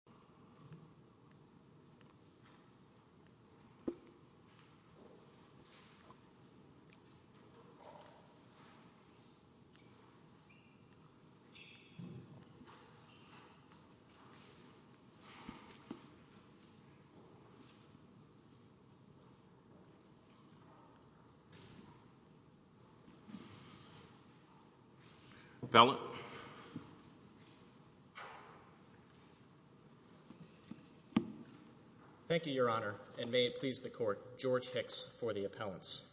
模仿實機 Thank you, your honor, and may it please the court, George Hicks for the appellants.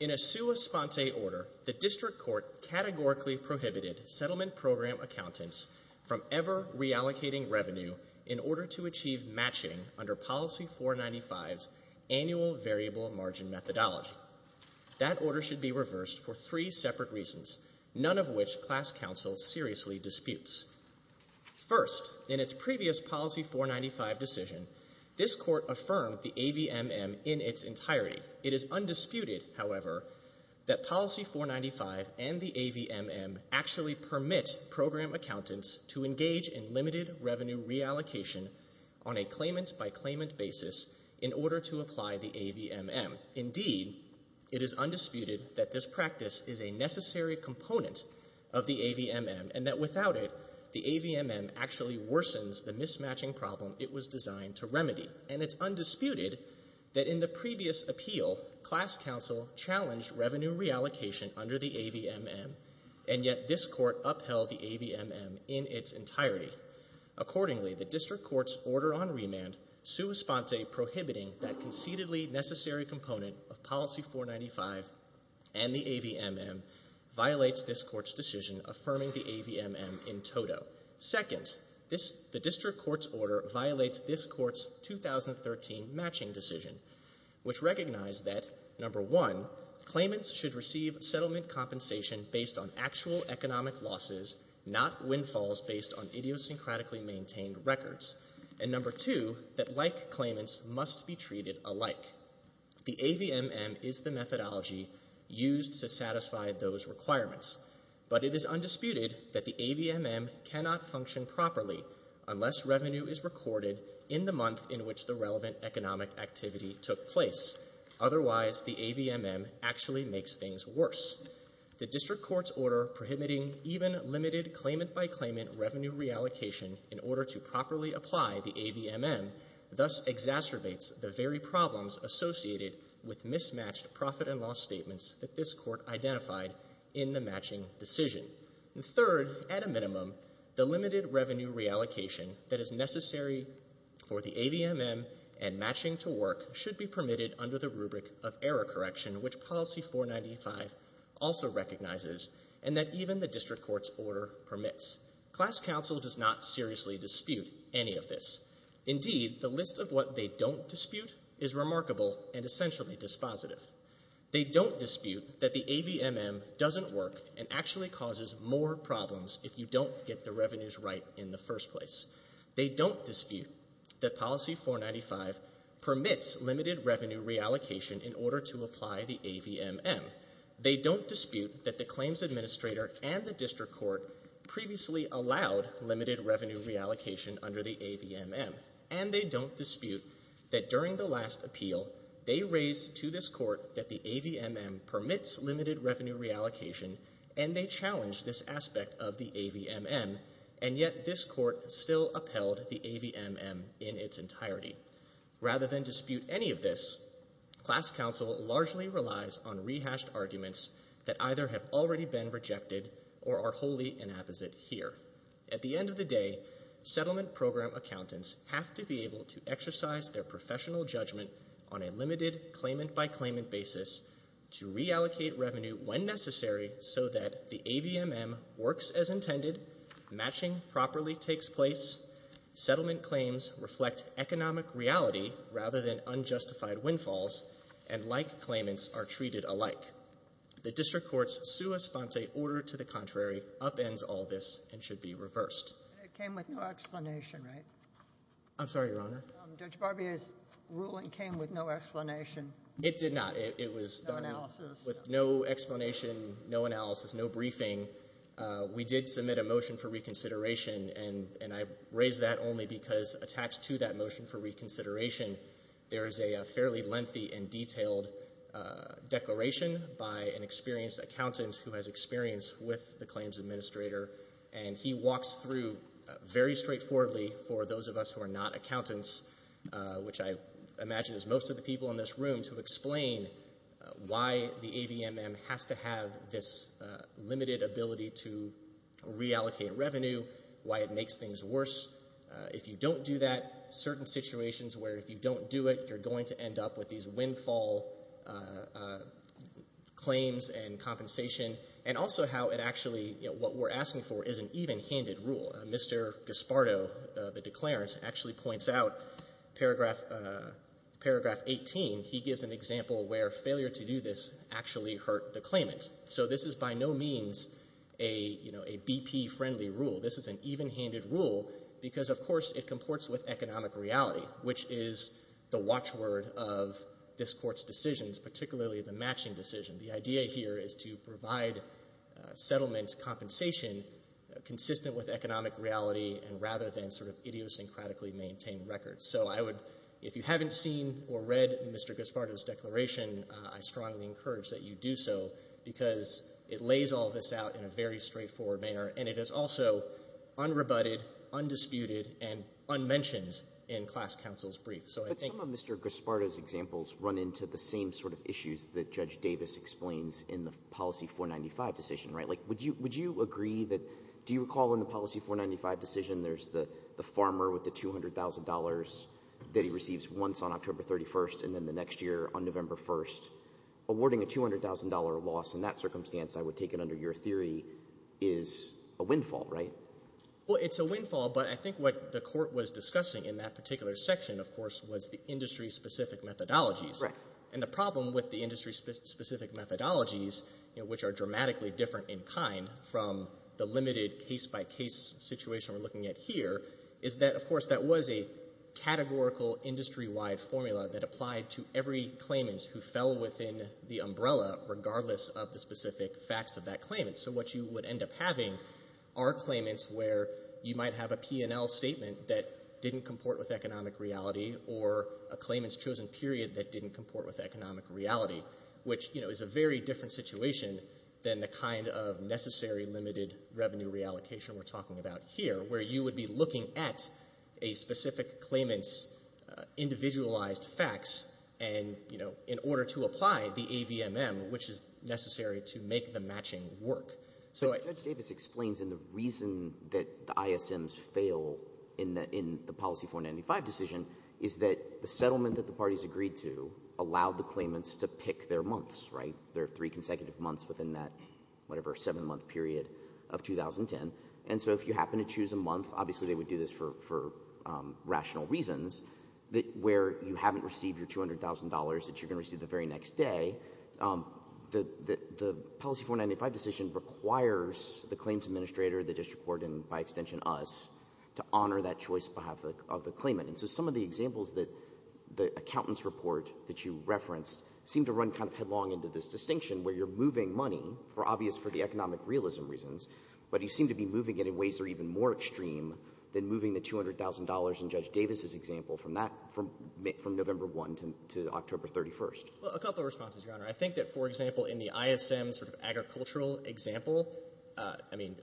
In a sua sponte order, the district court categorically prohibited settlement program accountants from ever reallocating revenue in order to achieve matching under policy 495's annual variable margin methodology. That order should be reversed for three separate reasons, none of which class counsel seriously disputes. First, in its previous policy 495 decision, this court affirmed the AVMM in its entirety. It is undisputed, however, that policy 495 and the AVMM actually permit program accountants to engage in limited revenue reallocation on a claimant by claimant basis in order to apply the AVMM. Indeed, it is undisputed that this practice is a necessary component of the AVMM and that without it, the AVMM actually worsens the mismatching problem it was designed to remedy. And it's undisputed that in the previous appeal, class counsel challenged revenue reallocation under the AVMM, and yet this court upheld the AVMM in its entirety. Accordingly, the district court's order on remand, sua sponte prohibiting that conceitedly necessary component of policy 495 and the AVMM violates this court's decision affirming the AVMM in toto. Second, the district court's order violates this court's 2013 matching decision, which recognized that, number one, claimants should receive settlement compensation based on actual economic losses, not windfalls based on idiosyncratically maintained records, and number two, that like claimants must be treated alike. The AVMM is the methodology used to satisfy those requirements, but it is undisputed that the AVMM cannot function properly unless revenue is recorded in the month in which the relevant economic activity took place. Otherwise, the AVMM actually makes things worse. The district court's order prohibiting even limited claimant by claimant revenue reallocation in order to properly apply the AVMM thus exacerbates the very problems associated with mismatched profit and loss statements that this court identified in the matching decision. Third, at a minimum, the limited revenue reallocation that is necessary for the AVMM and matching to work should be permitted under the rubric of error correction, which policy 495 also recognizes, and that even the district court's order permits. Class counsel does not seriously dispute any of this. Indeed, the list of what they don't dispute is remarkable and essentially dispositive. They don't dispute that the AVMM doesn't work and actually causes more problems if you don't get the revenues right in the first place. They don't dispute that policy 495 permits limited revenue reallocation in order to apply the AVMM. They don't dispute that the claims administrator and the district court previously allowed limited revenue reallocation under the AVMM. And they don't dispute that during the last appeal they raised to this court that the AVMM permits limited revenue reallocation and they challenged this aspect of the AVMM, and yet this court still upheld the AVMM in its entirety. Rather than dispute any of this, class counsel largely relies on rehashed arguments that either have already been rejected or are wholly inapposite here. At the end of the day, settlement program accountants have to be able to exercise their professional judgment on a limited claimant-by-claimant basis to reallocate revenue when necessary so that the AVMM works as intended, matching properly takes place, settlement claims reflect economic reality rather than unjustified windfalls, and like claimants are treated alike. The district court's sua sponte order to the contrary upends all this and should be reversed. It came with no explanation, right? I'm sorry, Your Honor. Judge Barbier's ruling came with no explanation. It did not. It was done with no explanation, no analysis, no briefing. We did submit a motion for reconsideration, and I raise that only because attached to that motion for reconsideration, there is a fairly lengthy and detailed declaration by an experienced accountant who has experience with the claims administrator, and he walks through very straightforwardly for those of us who are not accountants, which I imagine is most of the people in this room, why the AVMM has to have this limited ability to reallocate revenue, why it makes things worse. If you don't do that, certain situations where if you don't do it, you're going to end up with these windfall claims and compensation, and also how it actually, what we're asking for is an even-handed rule. Mr. Gaspardo, the declarant, actually points out paragraph 18. He gives an example where failure to do this actually hurt the claimant. So this is by no means a BP-friendly rule. This is an even-handed rule because, of course, it comports with economic reality, which is the watchword of this Court's decisions, particularly the matching decision. The idea here is to provide settlement compensation consistent with economic reality rather than sort of idiosyncratically maintain records. So I would, if you haven't seen or read Mr. Gaspardo's declaration, I strongly encourage that you do so because it lays all this out in a very straightforward manner, and it is also unrebutted, undisputed, and unmentioned in class counsel's brief. But some of Mr. Gaspardo's examples run into the same sort of issues that Judge Davis explains in the Policy 495 decision, right? Like, would you agree that do you recall in the Policy 495 decision there's the farmer with the $200,000 that he receives once on October 31st and then the next year on November 1st? Awarding a $200,000 loss in that circumstance, I would take it under your theory, is a windfall, right? Well, it's a windfall, but I think what the Court was discussing in that particular section, of course, was the industry-specific methodologies. And the problem with the industry-specific methodologies, which are dramatically different in kind from the limited case-by-case situation we're looking at here, is that, of course, that was a categorical, industry-wide formula that applied to every claimant who fell within the umbrella regardless of the specific facts of that claimant. So what you would end up having are claimants where you might have a P&L statement that didn't comport with economic reality or a claimant's chosen period that didn't comport with economic reality, which, you know, is a very different situation than the kind of necessary limited revenue reallocation we're talking about here, where you would be looking at a specific claimant's individualized facts and, you know, in order to apply the AVMM, which is necessary to make the matching work. So Judge Davis explains, and the reason that the ISMs fail in the policy 495 decision is that the settlement that the parties agreed to allowed the claimants to pick their months, right? There are three consecutive months within that, whatever, seven-month period of 2010. And so if you happen to choose a month, obviously they would do this for rational reasons, where you haven't received your $200,000 that you're going to require the claims administrator, the district court, and by extension us, to honor that choice on behalf of the claimant. And so some of the examples that the accountant's report that you referenced seem to run kind of headlong into this distinction where you're moving money, obvious for the economic realism reasons, but you seem to be moving it in ways that are even more extreme than moving the $200,000 in Judge Davis's example from November 1 to October 31. Well, a couple of responses, Your Honor. I think that, for example, in the ISM sort of agricultural example, I mean,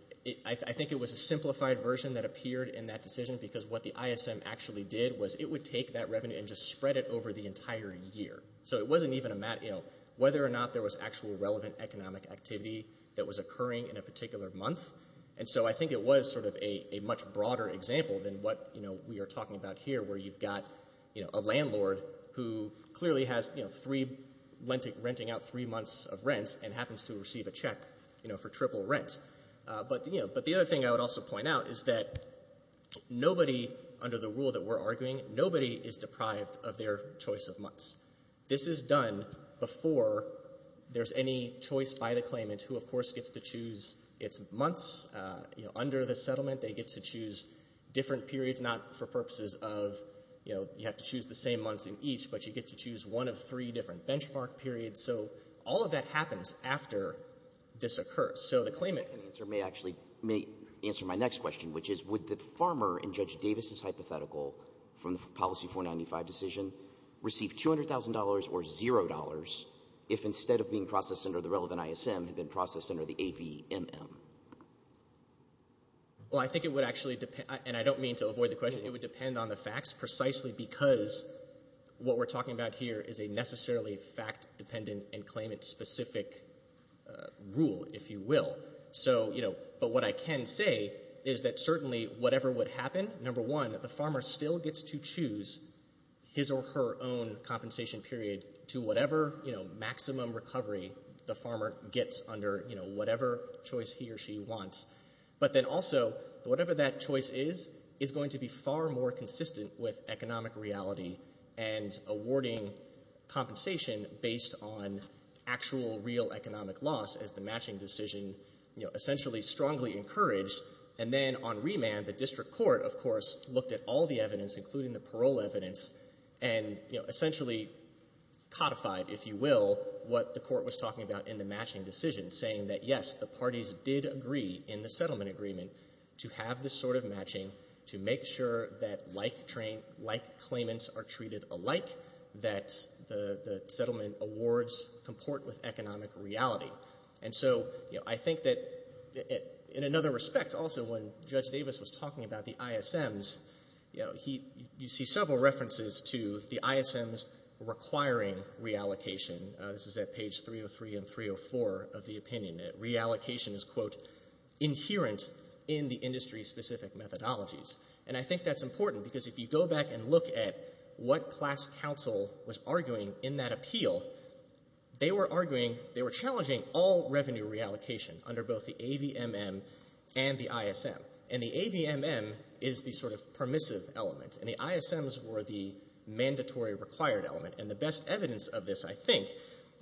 I think it was a simplified version that appeared in that decision because what the ISM actually did was it would take that revenue and just spread it over the entire year. So it wasn't even a matter of whether or not there was actual relevant economic activity that was occurring in a particular month. And so I think it was sort of a much broader example than what we are talking about here where you've got a landlord who clearly has three, renting out three months of rent and happens to receive a check for triple rent. But the other thing I would also point out is that nobody, under the rule that we're arguing, nobody is deprived of their choice of months. This is done before there's any choice by the claimant who, of course, gets to choose its months. Under the settlement, they get to choose different periods, not for purposes of you have to choose the same months in each, but you get to choose one of three different benchmark periods. So all of that happens after this occurs. So the claimant may actually answer my next question, which is would the farmer in Judge Davis' hypothetical from the Policy 495 decision receive $200,000 or $0 if instead of being processed under the relevant ISM, it had been processed under the AVMM? Well, I think it would actually depend, and I don't mean to avoid the question, it would depend on the facts precisely because what we're talking about here is a necessarily fact-dependent and claimant-specific rule, if you will. But what I can say is that certainly whatever would happen, number one, the farmer still gets to choose his or her own compensation period to whatever maximum recovery the farmer gets under whatever choice he or she wants. But then also, whatever that choice is, is going to be far more consistent with economic reality and awarding compensation based on actual real economic loss, as the matching decision essentially strongly encouraged. And then on remand, the district court, of course, looked at all the evidence, including the parole evidence, and essentially codified, if you will, what the court was talking about in the matching decision, saying that, yes, the parties did agree in the settlement agreement to have this sort of matching to make sure that like claimants are treated alike, that the settlement awards comport with economic reality. And so I think that in another respect also, when Judge Davis was talking about the ISMs, you see several references to the ISMs requiring reallocation. This is at page 303 and 304 of the opinion. Reallocation is, quote, inherent in the industry-specific methodologies. And I think that's important because if you go back and look at what class counsel was arguing in that appeal, they were arguing, they were challenging all revenue reallocation under both the AVMM and the ISM. And the AVMM is the sort of permissive element, and the ISMs were the mandatory required element. And the best evidence of this, I think,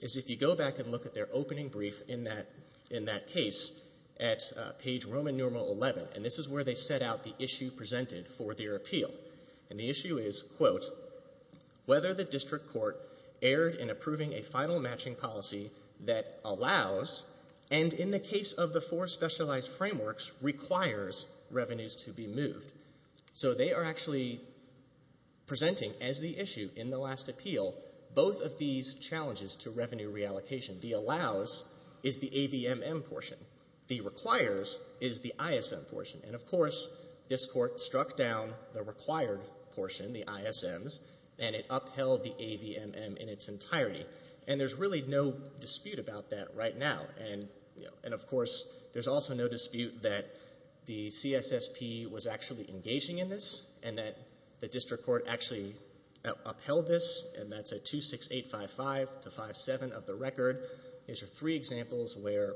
is if you go back and look at their opening brief in that case at page Roman Norma 11, and this is where they set out the issue presented for their appeal. And the issue is, quote, whether the district court erred in approving a final matching policy that allows, and in the case of the four specialized frameworks, requires revenues to be moved. So they are actually presenting as the issue in the last appeal both of these challenges to revenue reallocation. The allows is the AVMM portion. The requires is the ISM portion. And, of course, this court struck down the required portion, the ISMs, and it upheld the AVMM in its entirety. And there's really no dispute about that right now. And, of course, there's also no dispute that the CSSP was actually engaging in this and that the district court actually upheld this. And that's at 26855-57 of the record. These are three examples where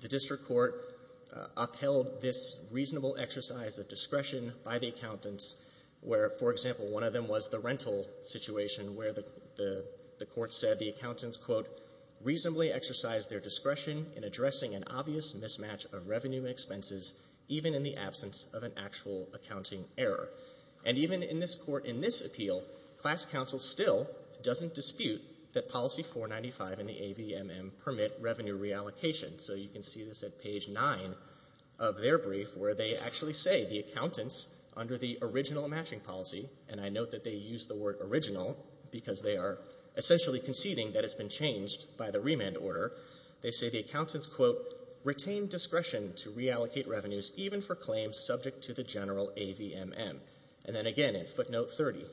the district court upheld this reasonable exercise of discretion by the accountants where, for example, one of them was the rental situation where the court said the accountants, quote, reasonably exercised their discretion in addressing an obvious mismatch of revenue expenses even in the absence of an actual accounting error. And even in this court, in this appeal, class counsel still doesn't dispute that Policy 495 and the AVMM permit revenue reallocation. So you can see this at page 9 of their brief where they actually say the accountants under the original matching policy, and I note that they use the word original because they are essentially conceding that it's been changed by the remand order. They say the accountants, quote, retained discretion to reallocate revenues even for claims subject to the general AVMM. And then again in footnote 30,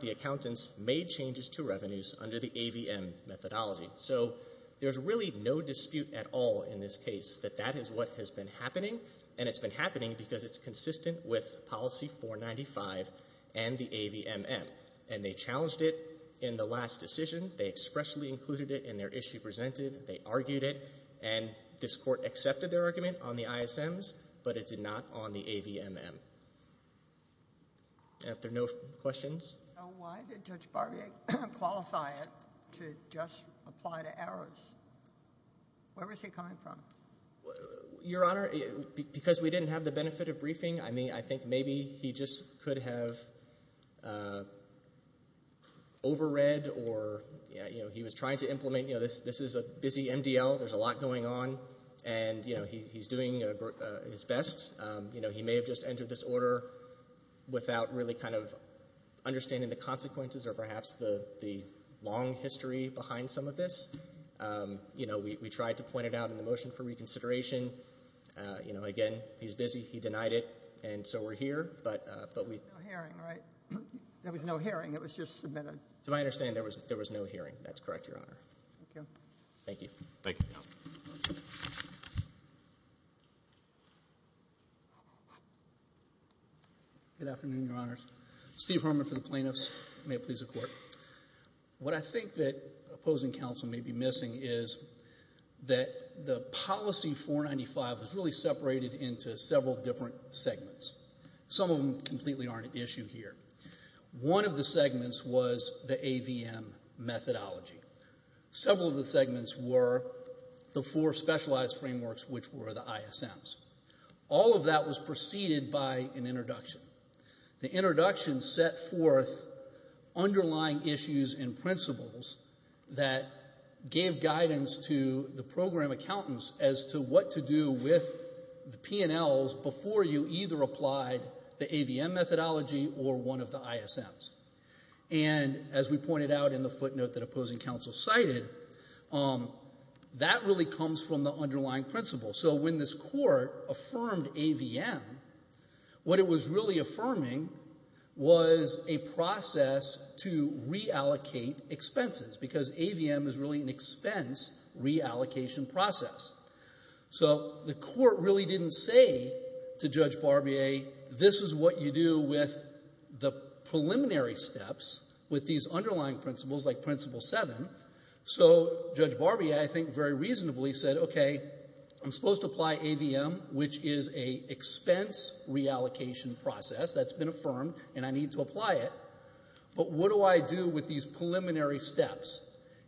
the accountants made changes to revenues under the AVMM methodology. So there's really no dispute at all in this case that that is what has been happening, and it's been happening because it's consistent with Policy 495 and the AVMM. And they challenged it in the last decision. They expressly included it in their issue presented. They argued it, and this court accepted their argument on the ISMs, but it's not on the AVMM. And if there are no questions? Why did Judge Barbier qualify it to just apply to errors? Where was he coming from? Your Honor, because we didn't have the benefit of briefing. I mean, I think maybe he just could have overread or, you know, he was trying to implement, you know, this is a busy MDL. There's a lot going on, and, you know, he's doing his best. You know, he may have just entered this order without really kind of understanding the consequences or perhaps the long history behind some of this. You know, we tried to point it out in the motion for reconsideration. You know, again, he's busy. He denied it, and so we're here. There was no hearing, right? There was no hearing. It was just submitted. To my understanding, there was no hearing. That's correct, Your Honor. Thank you. Thank you. Good afternoon, Your Honors. Steve Herman for the plaintiffs. May it please the Court. What I think that opposing counsel may be missing is that the policy 495 was really separated into several different segments. Some of them completely aren't at issue here. One of the segments was the AVM methodology. Several of the segments were the four specialized frameworks, which were the ISMs. All of that was preceded by an introduction. The introduction set forth underlying issues and principles that gave guidance to the program accountants as to what to do with the P&Ls before you either applied the AVM methodology or one of the ISMs. And as we pointed out in the footnote that opposing counsel cited, that really comes from the underlying principles. So when this Court affirmed AVM, what it was really affirming was a process to reallocate expenses because AVM is really an expense reallocation process. So the Court really didn't say to Judge Barbier, this is what you do with the preliminary steps with these underlying principles like Principle 7. So Judge Barbier, I think, very reasonably said, okay, I'm supposed to apply AVM, which is an expense reallocation process that's been affirmed and I need to apply it, but what do I do with these preliminary steps?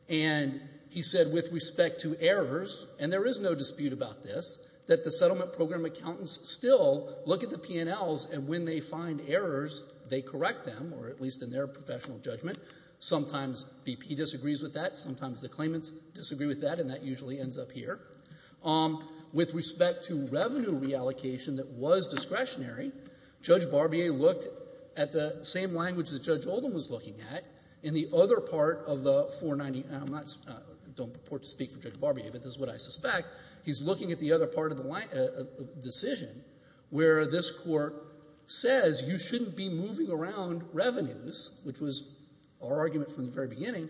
And he said with respect to errors, and there is no dispute about this, that the settlement program accountants still look at the P&Ls and when they find errors, they correct them, or at least in their professional judgment. Sometimes BP disagrees with that. Sometimes the claimants disagree with that, and that usually ends up here. With respect to revenue reallocation that was discretionary, Judge Barbier looked at the same language that Judge Oldham was looking at in the other part of the 490. I don't purport to speak for Judge Barbier, but this is what I suspect. He's looking at the other part of the decision where this Court says you shouldn't be moving around revenues, which was our argument from the very beginning.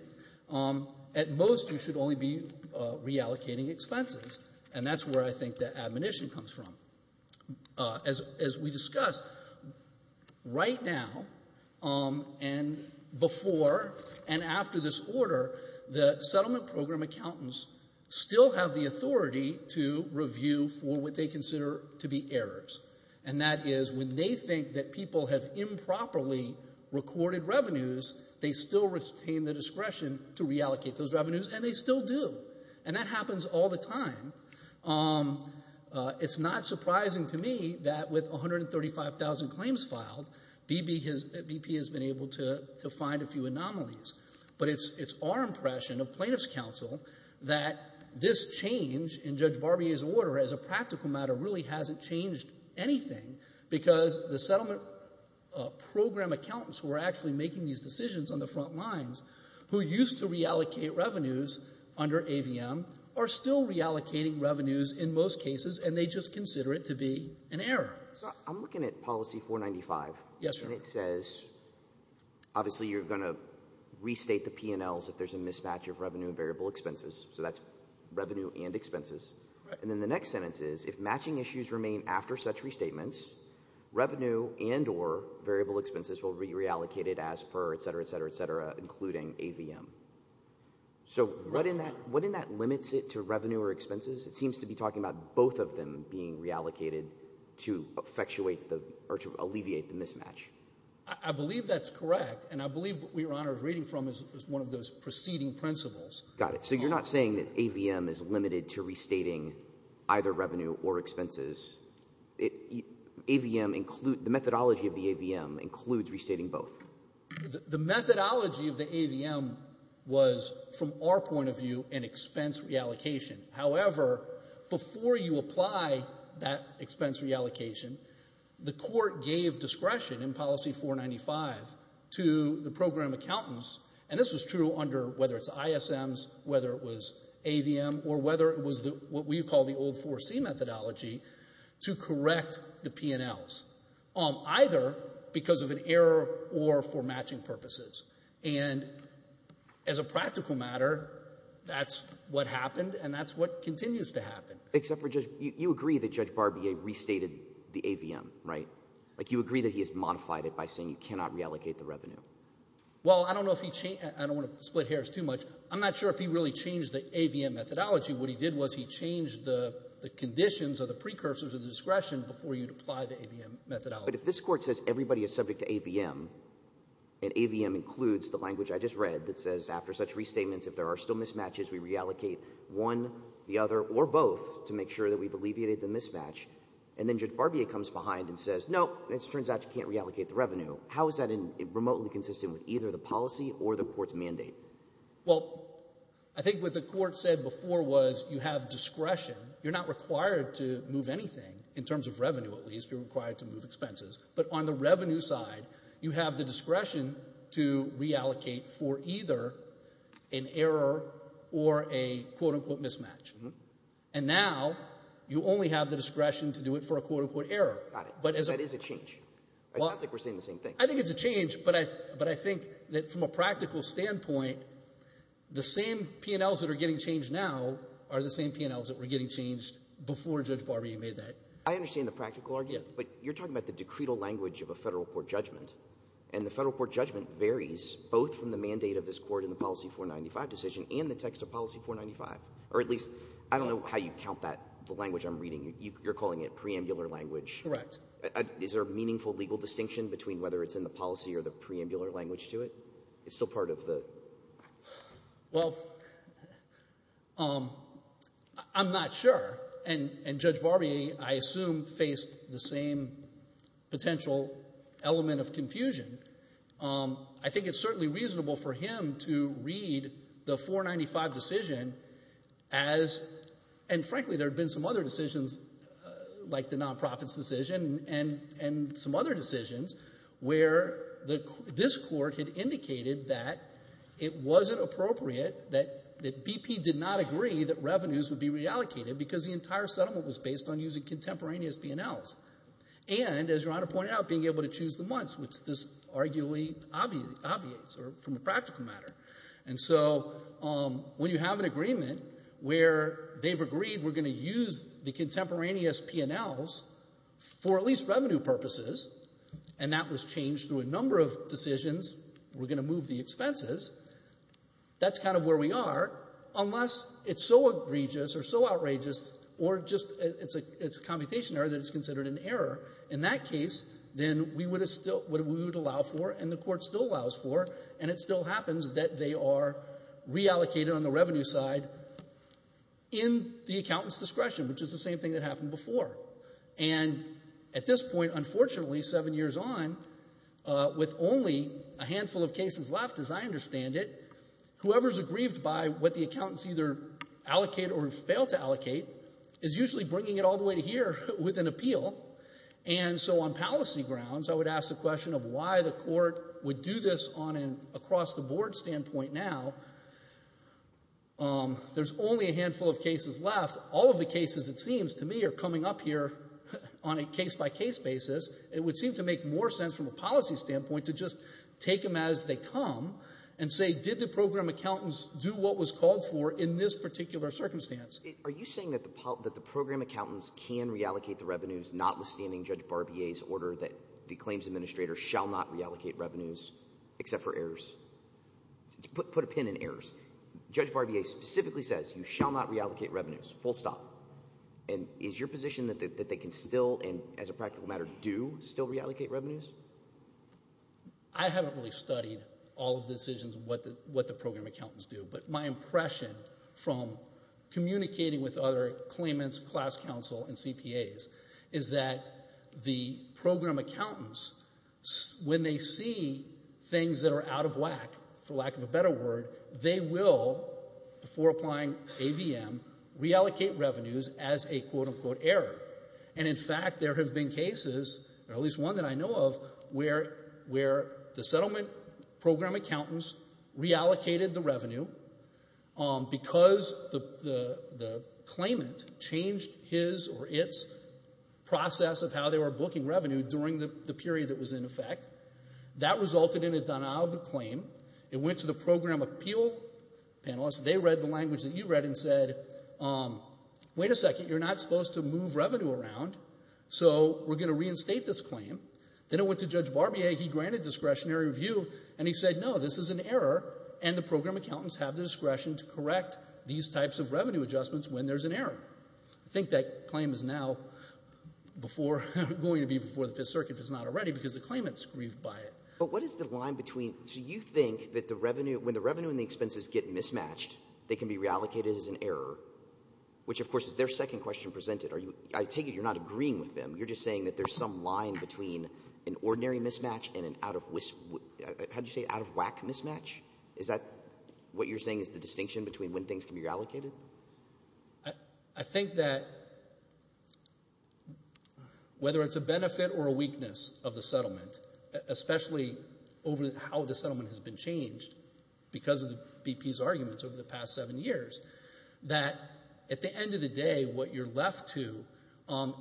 At most, you should only be reallocating expenses, and that's where I think the admonition comes from. As we discussed, right now and before and after this order, the settlement program accountants still have the authority to review for what they consider to be errors, and that is when they think that people have improperly recorded revenues, they still retain the discretion to reallocate those revenues, and they still do, and that happens all the time. It's not surprising to me that with 135,000 claims filed, BP has been able to find a few anomalies, but it's our impression of plaintiff's counsel that this change in Judge Barbier's order as a practical matter really hasn't changed anything because the settlement program accountants who are actually making these decisions on the front lines who used to reallocate revenues under AVM are still reallocating revenues in most cases, and they just consider it to be an error. So I'm looking at policy 495. Yes, sir. And it says obviously you're going to restate the P&Ls if there's a mismatch of revenue and variable expenses, so that's revenue and expenses. And then the next sentence is if matching issues remain after such restatements, revenue and or variable expenses will be reallocated as per, et cetera, et cetera, et cetera, including AVM. So what in that limits it to revenue or expenses? It seems to be talking about both of them being reallocated to effectuate or to alleviate the mismatch. I believe that's correct, and I believe what Your Honor is reading from is one of those preceding principles. Got it. So you're not saying that AVM is limited to restating either revenue or expenses. The methodology of the AVM includes restating both. The methodology of the AVM was, from our point of view, an expense reallocation. However, before you apply that expense reallocation, the court gave discretion in policy 495 to the program accountants, and this was true under whether it's ISMs, whether it was AVM, or whether it was what we call the old 4C methodology to correct the P&Ls, either because of an error or for matching purposes. And as a practical matter, that's what happened, and that's what continues to happen. Except for you agree that Judge Barbier restated the AVM, right? Like you agree that he has modified it by saying you cannot reallocate the revenue. Well, I don't know if he changed it. I don't want to split hairs too much. I'm not sure if he really changed the AVM methodology. What he did was he changed the conditions or the precursors of the discretion before you apply the AVM methodology. But if this Court says everybody is subject to AVM, and AVM includes the language I just read that says after such restatements, if there are still mismatches, we reallocate one, the other, or both to make sure that we've alleviated the mismatch, and then Judge Barbier comes behind and says, no, it turns out you can't reallocate the revenue. How is that remotely consistent with either the policy or the Court's mandate? Well, I think what the Court said before was you have discretion. You're not required to move anything in terms of revenue at least. You're required to move expenses. But on the revenue side, you have the discretion to reallocate for either an error or a quote-unquote mismatch. And now you only have the discretion to do it for a quote-unquote error. Got it. Because that is a change. It sounds like we're saying the same thing. I think it's a change. But I think that from a practical standpoint, the same P&Ls that are getting changed now are the same P&Ls that were getting changed before Judge Barbier made that. I understand the practical argument. Yes. But you're talking about the decretal language of a Federal court judgment. And the Federal court judgment varies both from the mandate of this Court in the Policy 495 decision and the text of Policy 495, or at least I don't know how you count that, the language I'm reading. You're calling it preambular language. Correct. Is there a meaningful legal distinction between whether it's in the policy or the preambular language to it? It's still part of the— Well, I'm not sure. And Judge Barbier, I assume, faced the same potential element of confusion. I think it's certainly reasonable for him to read the 495 decision as—and frankly, there have been some other decisions like the nonprofit's decision and some other decisions where this Court had indicated that it wasn't appropriate, that BP did not agree that revenues would be reallocated because the entire settlement was based on using contemporaneous P&Ls. And, as Your Honor pointed out, being able to choose the months, which this arguably obviates from a practical matter. And so when you have an agreement where they've agreed we're going to use the contemporaneous P&Ls for at least revenue purposes, and that was changed through a number of decisions, we're going to move the expenses, that's kind of where we are, unless it's so egregious or so outrageous or just it's a commutation error that it's considered an error. In that case, then we would allow for, and the Court still allows for, and it still happens that they are reallocated on the revenue side in the accountant's discretion, which is the same thing that happened before. And at this point, unfortunately, seven years on, with only a handful of cases left, as I understand it, whoever's aggrieved by what the accountants either allocate or fail to allocate is usually bringing it all the way to here with an appeal. And so on policy grounds, I would ask the question of why the Court would do this on an across-the-board standpoint now. There's only a handful of cases left. All of the cases, it seems to me, are coming up here on a case-by-case basis. It would seem to make more sense from a policy standpoint to just take them as they come and say, did the program accountants do what was called for in this particular circumstance? Are you saying that the program accountants can reallocate the revenues notwithstanding Judge Barbier's order that the claims administrator shall not reallocate revenues except for errors? Put a pin in errors. Judge Barbier specifically says you shall not reallocate revenues, full stop. And is your position that they can still, and as a practical matter, do still reallocate revenues? I haven't really studied all of the decisions and what the program accountants do, but my guess is that the program accountants, when they see things that are out of whack, for lack of a better word, they will, before applying AVM, reallocate revenues as a quote-unquote error. And in fact, there have been cases, or at least one that I know of, where the settlement program accountants reallocated the revenue because the claimant changed his or its process of how they were booking revenue during the period that was in effect. That resulted in a denial of the claim. It went to the program appeal panelist. They read the language that you read and said, wait a second, you're not supposed to move revenue around, so we're going to reinstate this claim. Then it went to Judge Barbier. He granted discretionary review, and he said, no, this is an error, and the program accountants I think that claim is now going to be before the Fifth Circuit, if it's not already, because the claimant's grieved by it. But what is the line between, so you think that when the revenue and the expenses get mismatched, they can be reallocated as an error, which of course is their second question presented. I take it you're not agreeing with them. You're just saying that there's some line between an ordinary mismatch and an out-of-whack mismatch? Is that what you're saying is the distinction between when things can be reallocated? I think that whether it's a benefit or a weakness of the settlement, especially over how the settlement has been changed because of the BP's arguments over the past seven years, that at the end of the day, what you're left to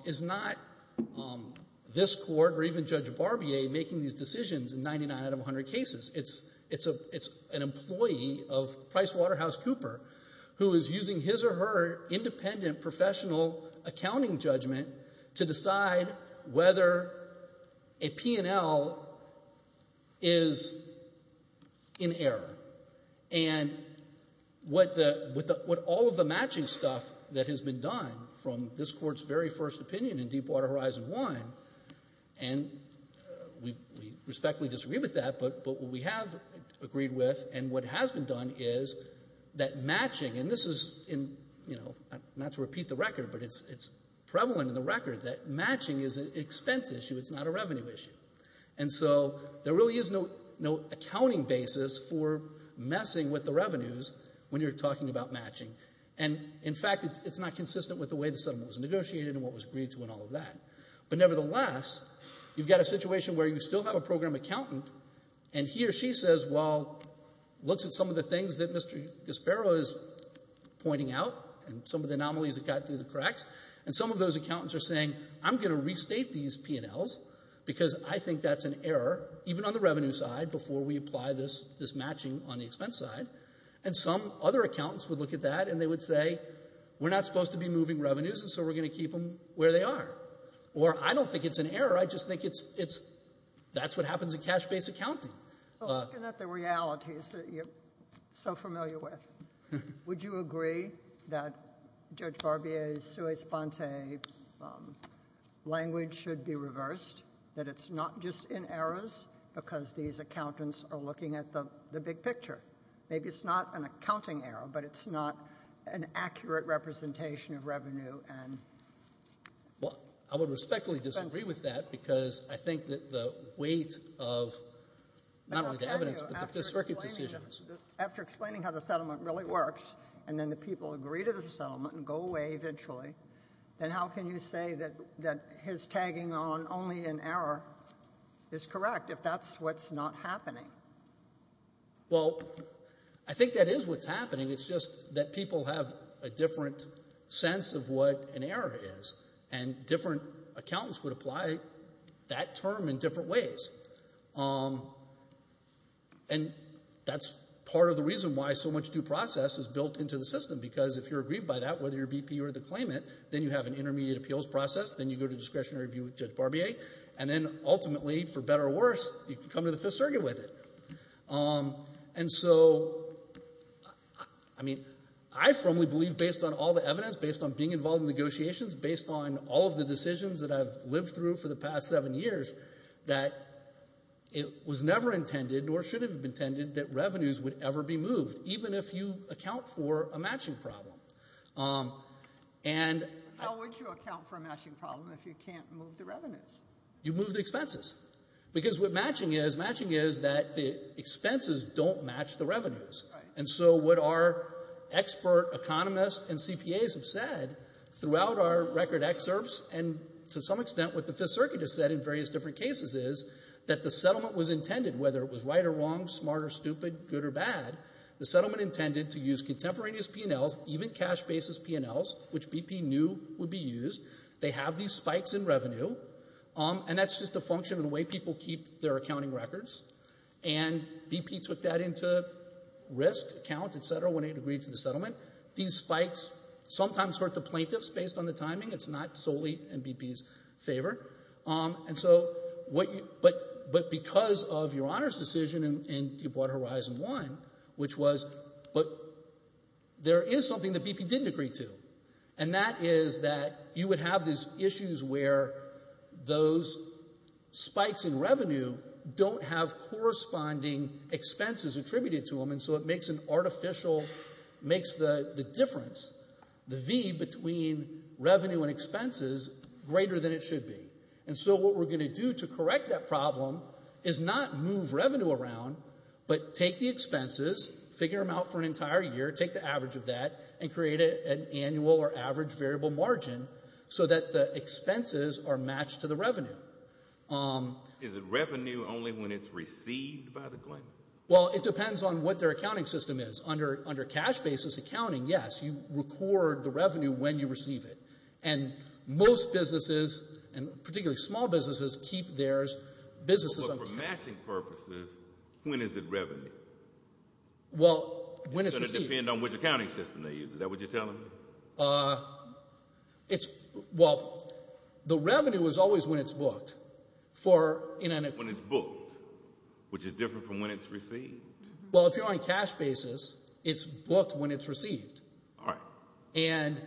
is not this Court or even Judge Barbier making these decisions in 99 out of 100 cases. It's an employee of PricewaterhouseCooper who is using his or her independent professional accounting judgment to decide whether a P&L is in error. And what all of the matching stuff that has been done from this Court's very first opinion in Deepwater Horizon 1, and we respectfully disagree with that, but what we have agreed with and what has been done is that matching, and this is not to repeat the record, but it's prevalent in the record, that matching is an expense issue. It's not a revenue issue. And so there really is no accounting basis for messing with the revenues when you're talking about matching. And in fact, it's not consistent with the way the settlement was negotiated and what was agreed to and all of that. But nevertheless, you've got a situation where you still have a program accountant, and he or she says, well, looks at some of the things that Mr. Gispero is pointing out and some of the anomalies that got through the cracks, and some of those accountants are saying, I'm going to restate these P&Ls because I think that's an error, even on the revenue side, before we apply this matching on the expense side. And some other accountants would look at that, and they would say, we're not supposed to be moving revenues, and so we're going to keep them where they are. Or I don't think it's an error. I just think it's, that's what happens in cash-based accounting. So looking at the realities that you're so familiar with, would you agree that Judge Barbier's sui sponte language should be reversed, that it's not just in errors because these accountants are looking at the big picture? Maybe it's not an accounting error, but it's not an accurate representation of revenue and expense. Well, I would respectfully disagree with that because I think that the weight of not only the evidence, but the Fifth Circuit decisions. After explaining how the settlement really works, and then the people agree to the settlement and go away eventually, then how can you say that his tagging on only in error is correct if that's what's not happening? Well, I think that is what's happening. It's just that people have a different sense of what an error is, and different accountants would apply that term in different ways. And that's part of the reason why so much due process is built into the system, because if you're agreed by that, whether you're BP or the claimant, then you have an intermediate appeals process, then you go to discretionary review with Judge Barbier, and then ultimately, for better or worse, you can come to the Fifth Circuit with it. And so, I mean, I firmly believe, based on all the evidence, based on being involved in negotiations, based on all of the decisions that I've lived through for the past seven years, that it was never intended, nor should it have been intended, that revenues would ever be moved, even if you account for a matching problem. How would you account for a matching problem if you can't move the revenues? You move the expenses. Because what matching is, matching is that the expenses don't match the revenues. Right. And so what our expert economists and CPAs have said throughout our record excerpts, and to some extent what the Fifth Circuit has said in various different cases, is that the settlement was intended, whether it was right or wrong, smart or stupid, good or bad, the settlement intended to use contemporaneous P&Ls, even cash basis P&Ls, which BP knew would be used. They have these spikes in revenue, and that's just a function of the way people keep their accounting records. And BP took that into risk, account, et cetera, when it agreed to the settlement. These spikes sometimes hurt the plaintiffs based on the timing. It's not solely in BP's favor. And so, but because of Your Honor's decision in Deepwater Horizon 1, which was, but there is something that BP didn't agree to, and that is that you would have these issues where those spikes in revenue don't have corresponding expenses attributed to them, and so it makes an artificial, makes the difference, the V between revenue and expenses greater than it should be. And so what we're going to do to correct that problem is not move revenue around, but take the expenses, figure them out for an entire year, take the average of that, and create an annual or average variable margin so that the expenses are matched to the revenue. Is it revenue only when it's received by the claimant? Well, it depends on what their accounting system is. Under cash basis accounting, yes, you record the revenue when you receive it. And most businesses, and particularly small businesses, keep their businesses on account. So for matching purposes, when is it revenue? Well, when it's received. It's going to depend on which accounting system they use. Is that what you're telling me? Well, the revenue is always when it's booked. When it's booked, which is different from when it's received? Well, if you're on cash basis, it's booked when it's received. All right. And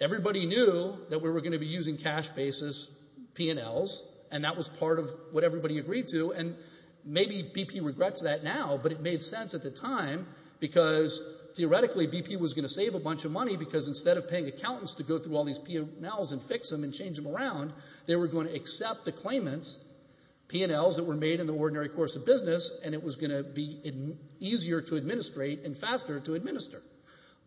everybody knew that we were going to be using cash basis P&Ls, and that was part of what everybody agreed to. And maybe BP regrets that now, but it made sense at the time because theoretically BP was going to save a bunch of money because instead of paying accountants to go through all these P&Ls and fix them and change them around, they were going to accept the claimants, P&Ls that were made in the ordinary course of business, and it was going to be easier to administrate and faster to administer.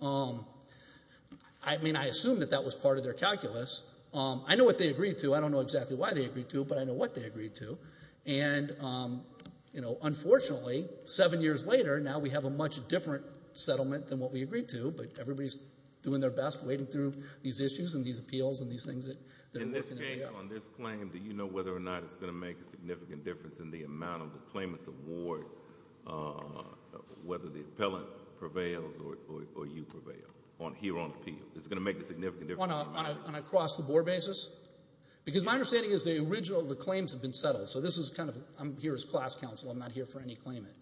I mean, I assume that that was part of their calculus. I know what they agreed to. I don't know exactly why they agreed to, but I know what they agreed to. And, you know, unfortunately, seven years later, now we have a much different settlement than what we agreed to, but everybody's doing their best, waiting through these issues and these appeals and these things that are working. In this case, on this claim, do you know whether or not it's going to make a significant difference in the amount of the claimant's award, whether the appellant prevails or you prevail, here on appeal? Is it going to make a significant difference? On an across-the-board basis? Because my understanding is the original, the claims have been settled. So this is kind of, I'm here as class counsel. I'm not here for any claimant.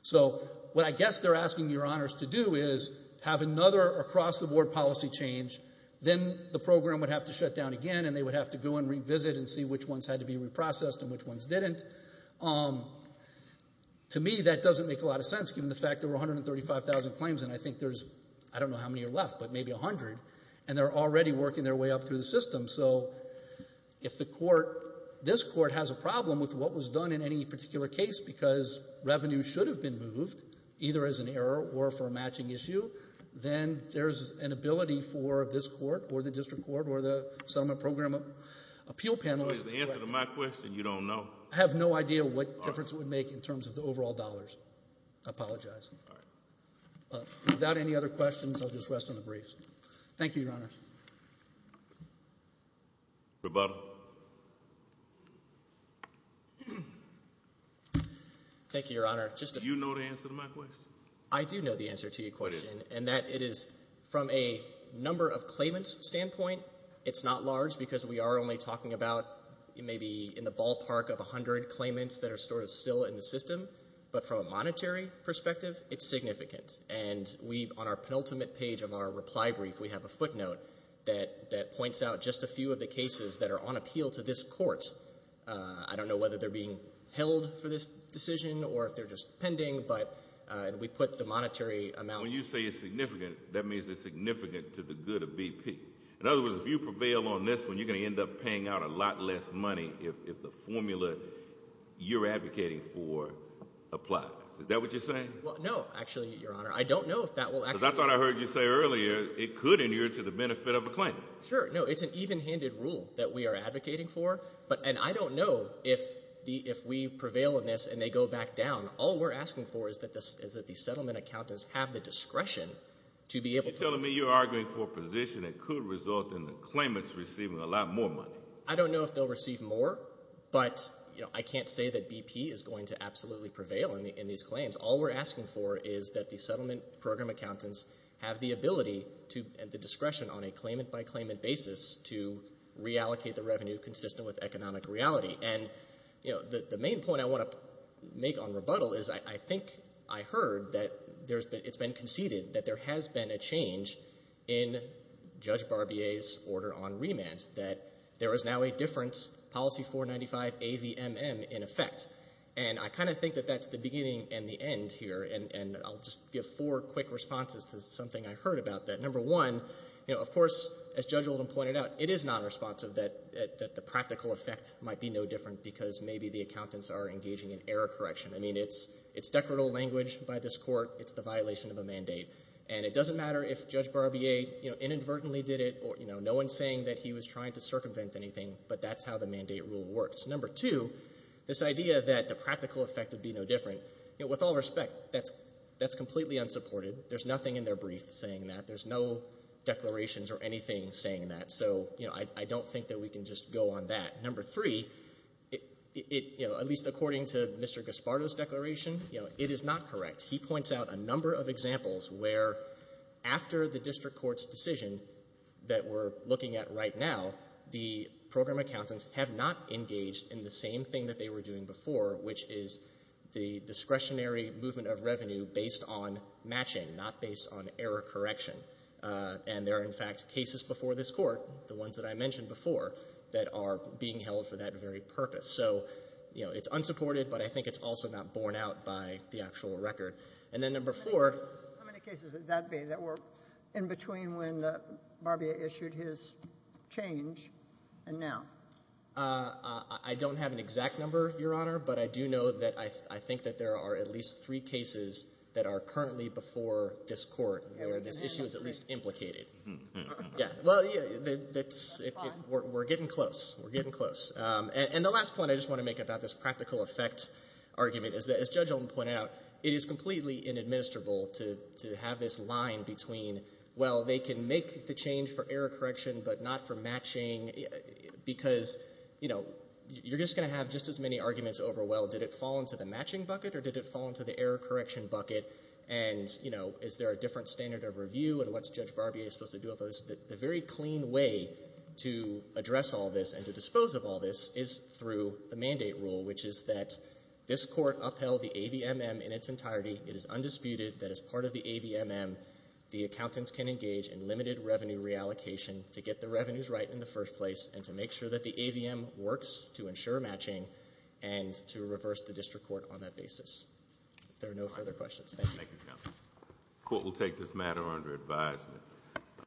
So what I guess they're asking your honors to do is have another across-the-board policy change. Then the program would have to shut down again, and they would have to go and revisit and see which ones had to be reprocessed and which ones didn't. To me, that doesn't make a lot of sense, given the fact there were 135,000 claims, and I think they're already working their way up through the system. So if the court, this court, has a problem with what was done in any particular case because revenue should have been moved, either as an error or for a matching issue, then there's an ability for this court or the district court or the settlement program appeal panelist. So is the answer to my question, you don't know? I have no idea what difference it would make in terms of the overall dollars. I apologize. All right. Without any other questions, I'll just rest on the briefs. Thank you, your honors. Rebuttal. Thank you, your honor. Do you know the answer to my question? I do know the answer to your question, and that it is from a number of claimants standpoint, it's not large because we are only talking about maybe in the ballpark of 100 claimants that are sort of still in the system. But from a monetary perspective, it's significant. And we, on our penultimate page of our reply brief, we have a footnote that points out just a few of the cases that are on appeal to this court. I don't know whether they're being held for this decision or if they're just pending, but we put the monetary amount. When you say it's significant, that means it's significant to the good of BP. In other words, if you prevail on this one, you're going to end up paying out a lot less money if the formula you're advocating for applies. Is that what you're saying? No, actually, your honor. I don't know if that will actually happen. Because I thought I heard you say earlier it could adhere to the benefit of a claimant. Sure. No, it's an even-handed rule that we are advocating for. And I don't know if we prevail in this and they go back down. All we're asking for is that the settlement accountants have the discretion to be able to. You're telling me you're arguing for a position that could result in the claimants receiving a lot more money. I don't know if they'll receive more, but I can't say that BP is going to absolutely prevail in these claims. All we're asking for is that the settlement program accountants have the ability and the discretion on a claimant-by-claimant basis to reallocate the revenue consistent with economic reality. And the main point I want to make on rebuttal is I think I heard that it's been conceded that there has been a change in Judge Barbier's order on remand, that there is now a different policy 495-AVMM in effect. And I kind of think that that's the beginning and the end here. And I'll just give four quick responses to something I heard about that. Number one, of course, as Judge Oldham pointed out, it is nonresponsive that the practical effect might be no different because maybe the accountants are engaging in error correction. I mean, it's decadal language by this Court. It's the violation of a mandate. And it doesn't matter if Judge Barbier inadvertently did it or no one is saying that he was trying to circumvent anything, but that's how the mandate rule works. Number two, this idea that the practical effect would be no different, with all respect, that's completely unsupported. There's nothing in their brief saying that. There's no declarations or anything saying that. So I don't think that we can just go on that. Number three, at least according to Mr. Gaspardo's declaration, it is not correct. He points out a number of examples where after the district court's decision that we're looking at right now, that the program accountants have not engaged in the same thing that they were doing before, which is the discretionary movement of revenue based on matching, not based on error correction. And there are, in fact, cases before this Court, the ones that I mentioned before, that are being held for that very purpose. So, you know, it's unsupported, but I think it's also not borne out by the actual record. And then number four. How many cases would that be that were in between when Barbier issued his change and now? I don't have an exact number, Your Honor, but I do know that I think that there are at least three cases that are currently before this Court where this issue is at least implicated. Well, we're getting close. We're getting close. And the last point I just want to make about this practical effect argument is that, as Judge Olin pointed out, it is completely inadministrable to have this line between, well, they can make the change for error correction but not for matching, because, you know, you're just going to have just as many arguments over, well, did it fall into the matching bucket or did it fall into the error correction bucket, and, you know, is there a different standard of review and what's Judge Barbier supposed to do with those? The very clean way to address all this and to dispose of all this is through the mandate rule, which is that this Court upheld the AVMM in its entirety. It is undisputed that as part of the AVMM, the accountants can engage in limited revenue reallocation to get the revenues right in the first place and to make sure that the AVMM works to ensure matching and to reverse the district court on that basis. If there are no further questions, thank you. Thank you, counsel. The Court will take this matter under advisement.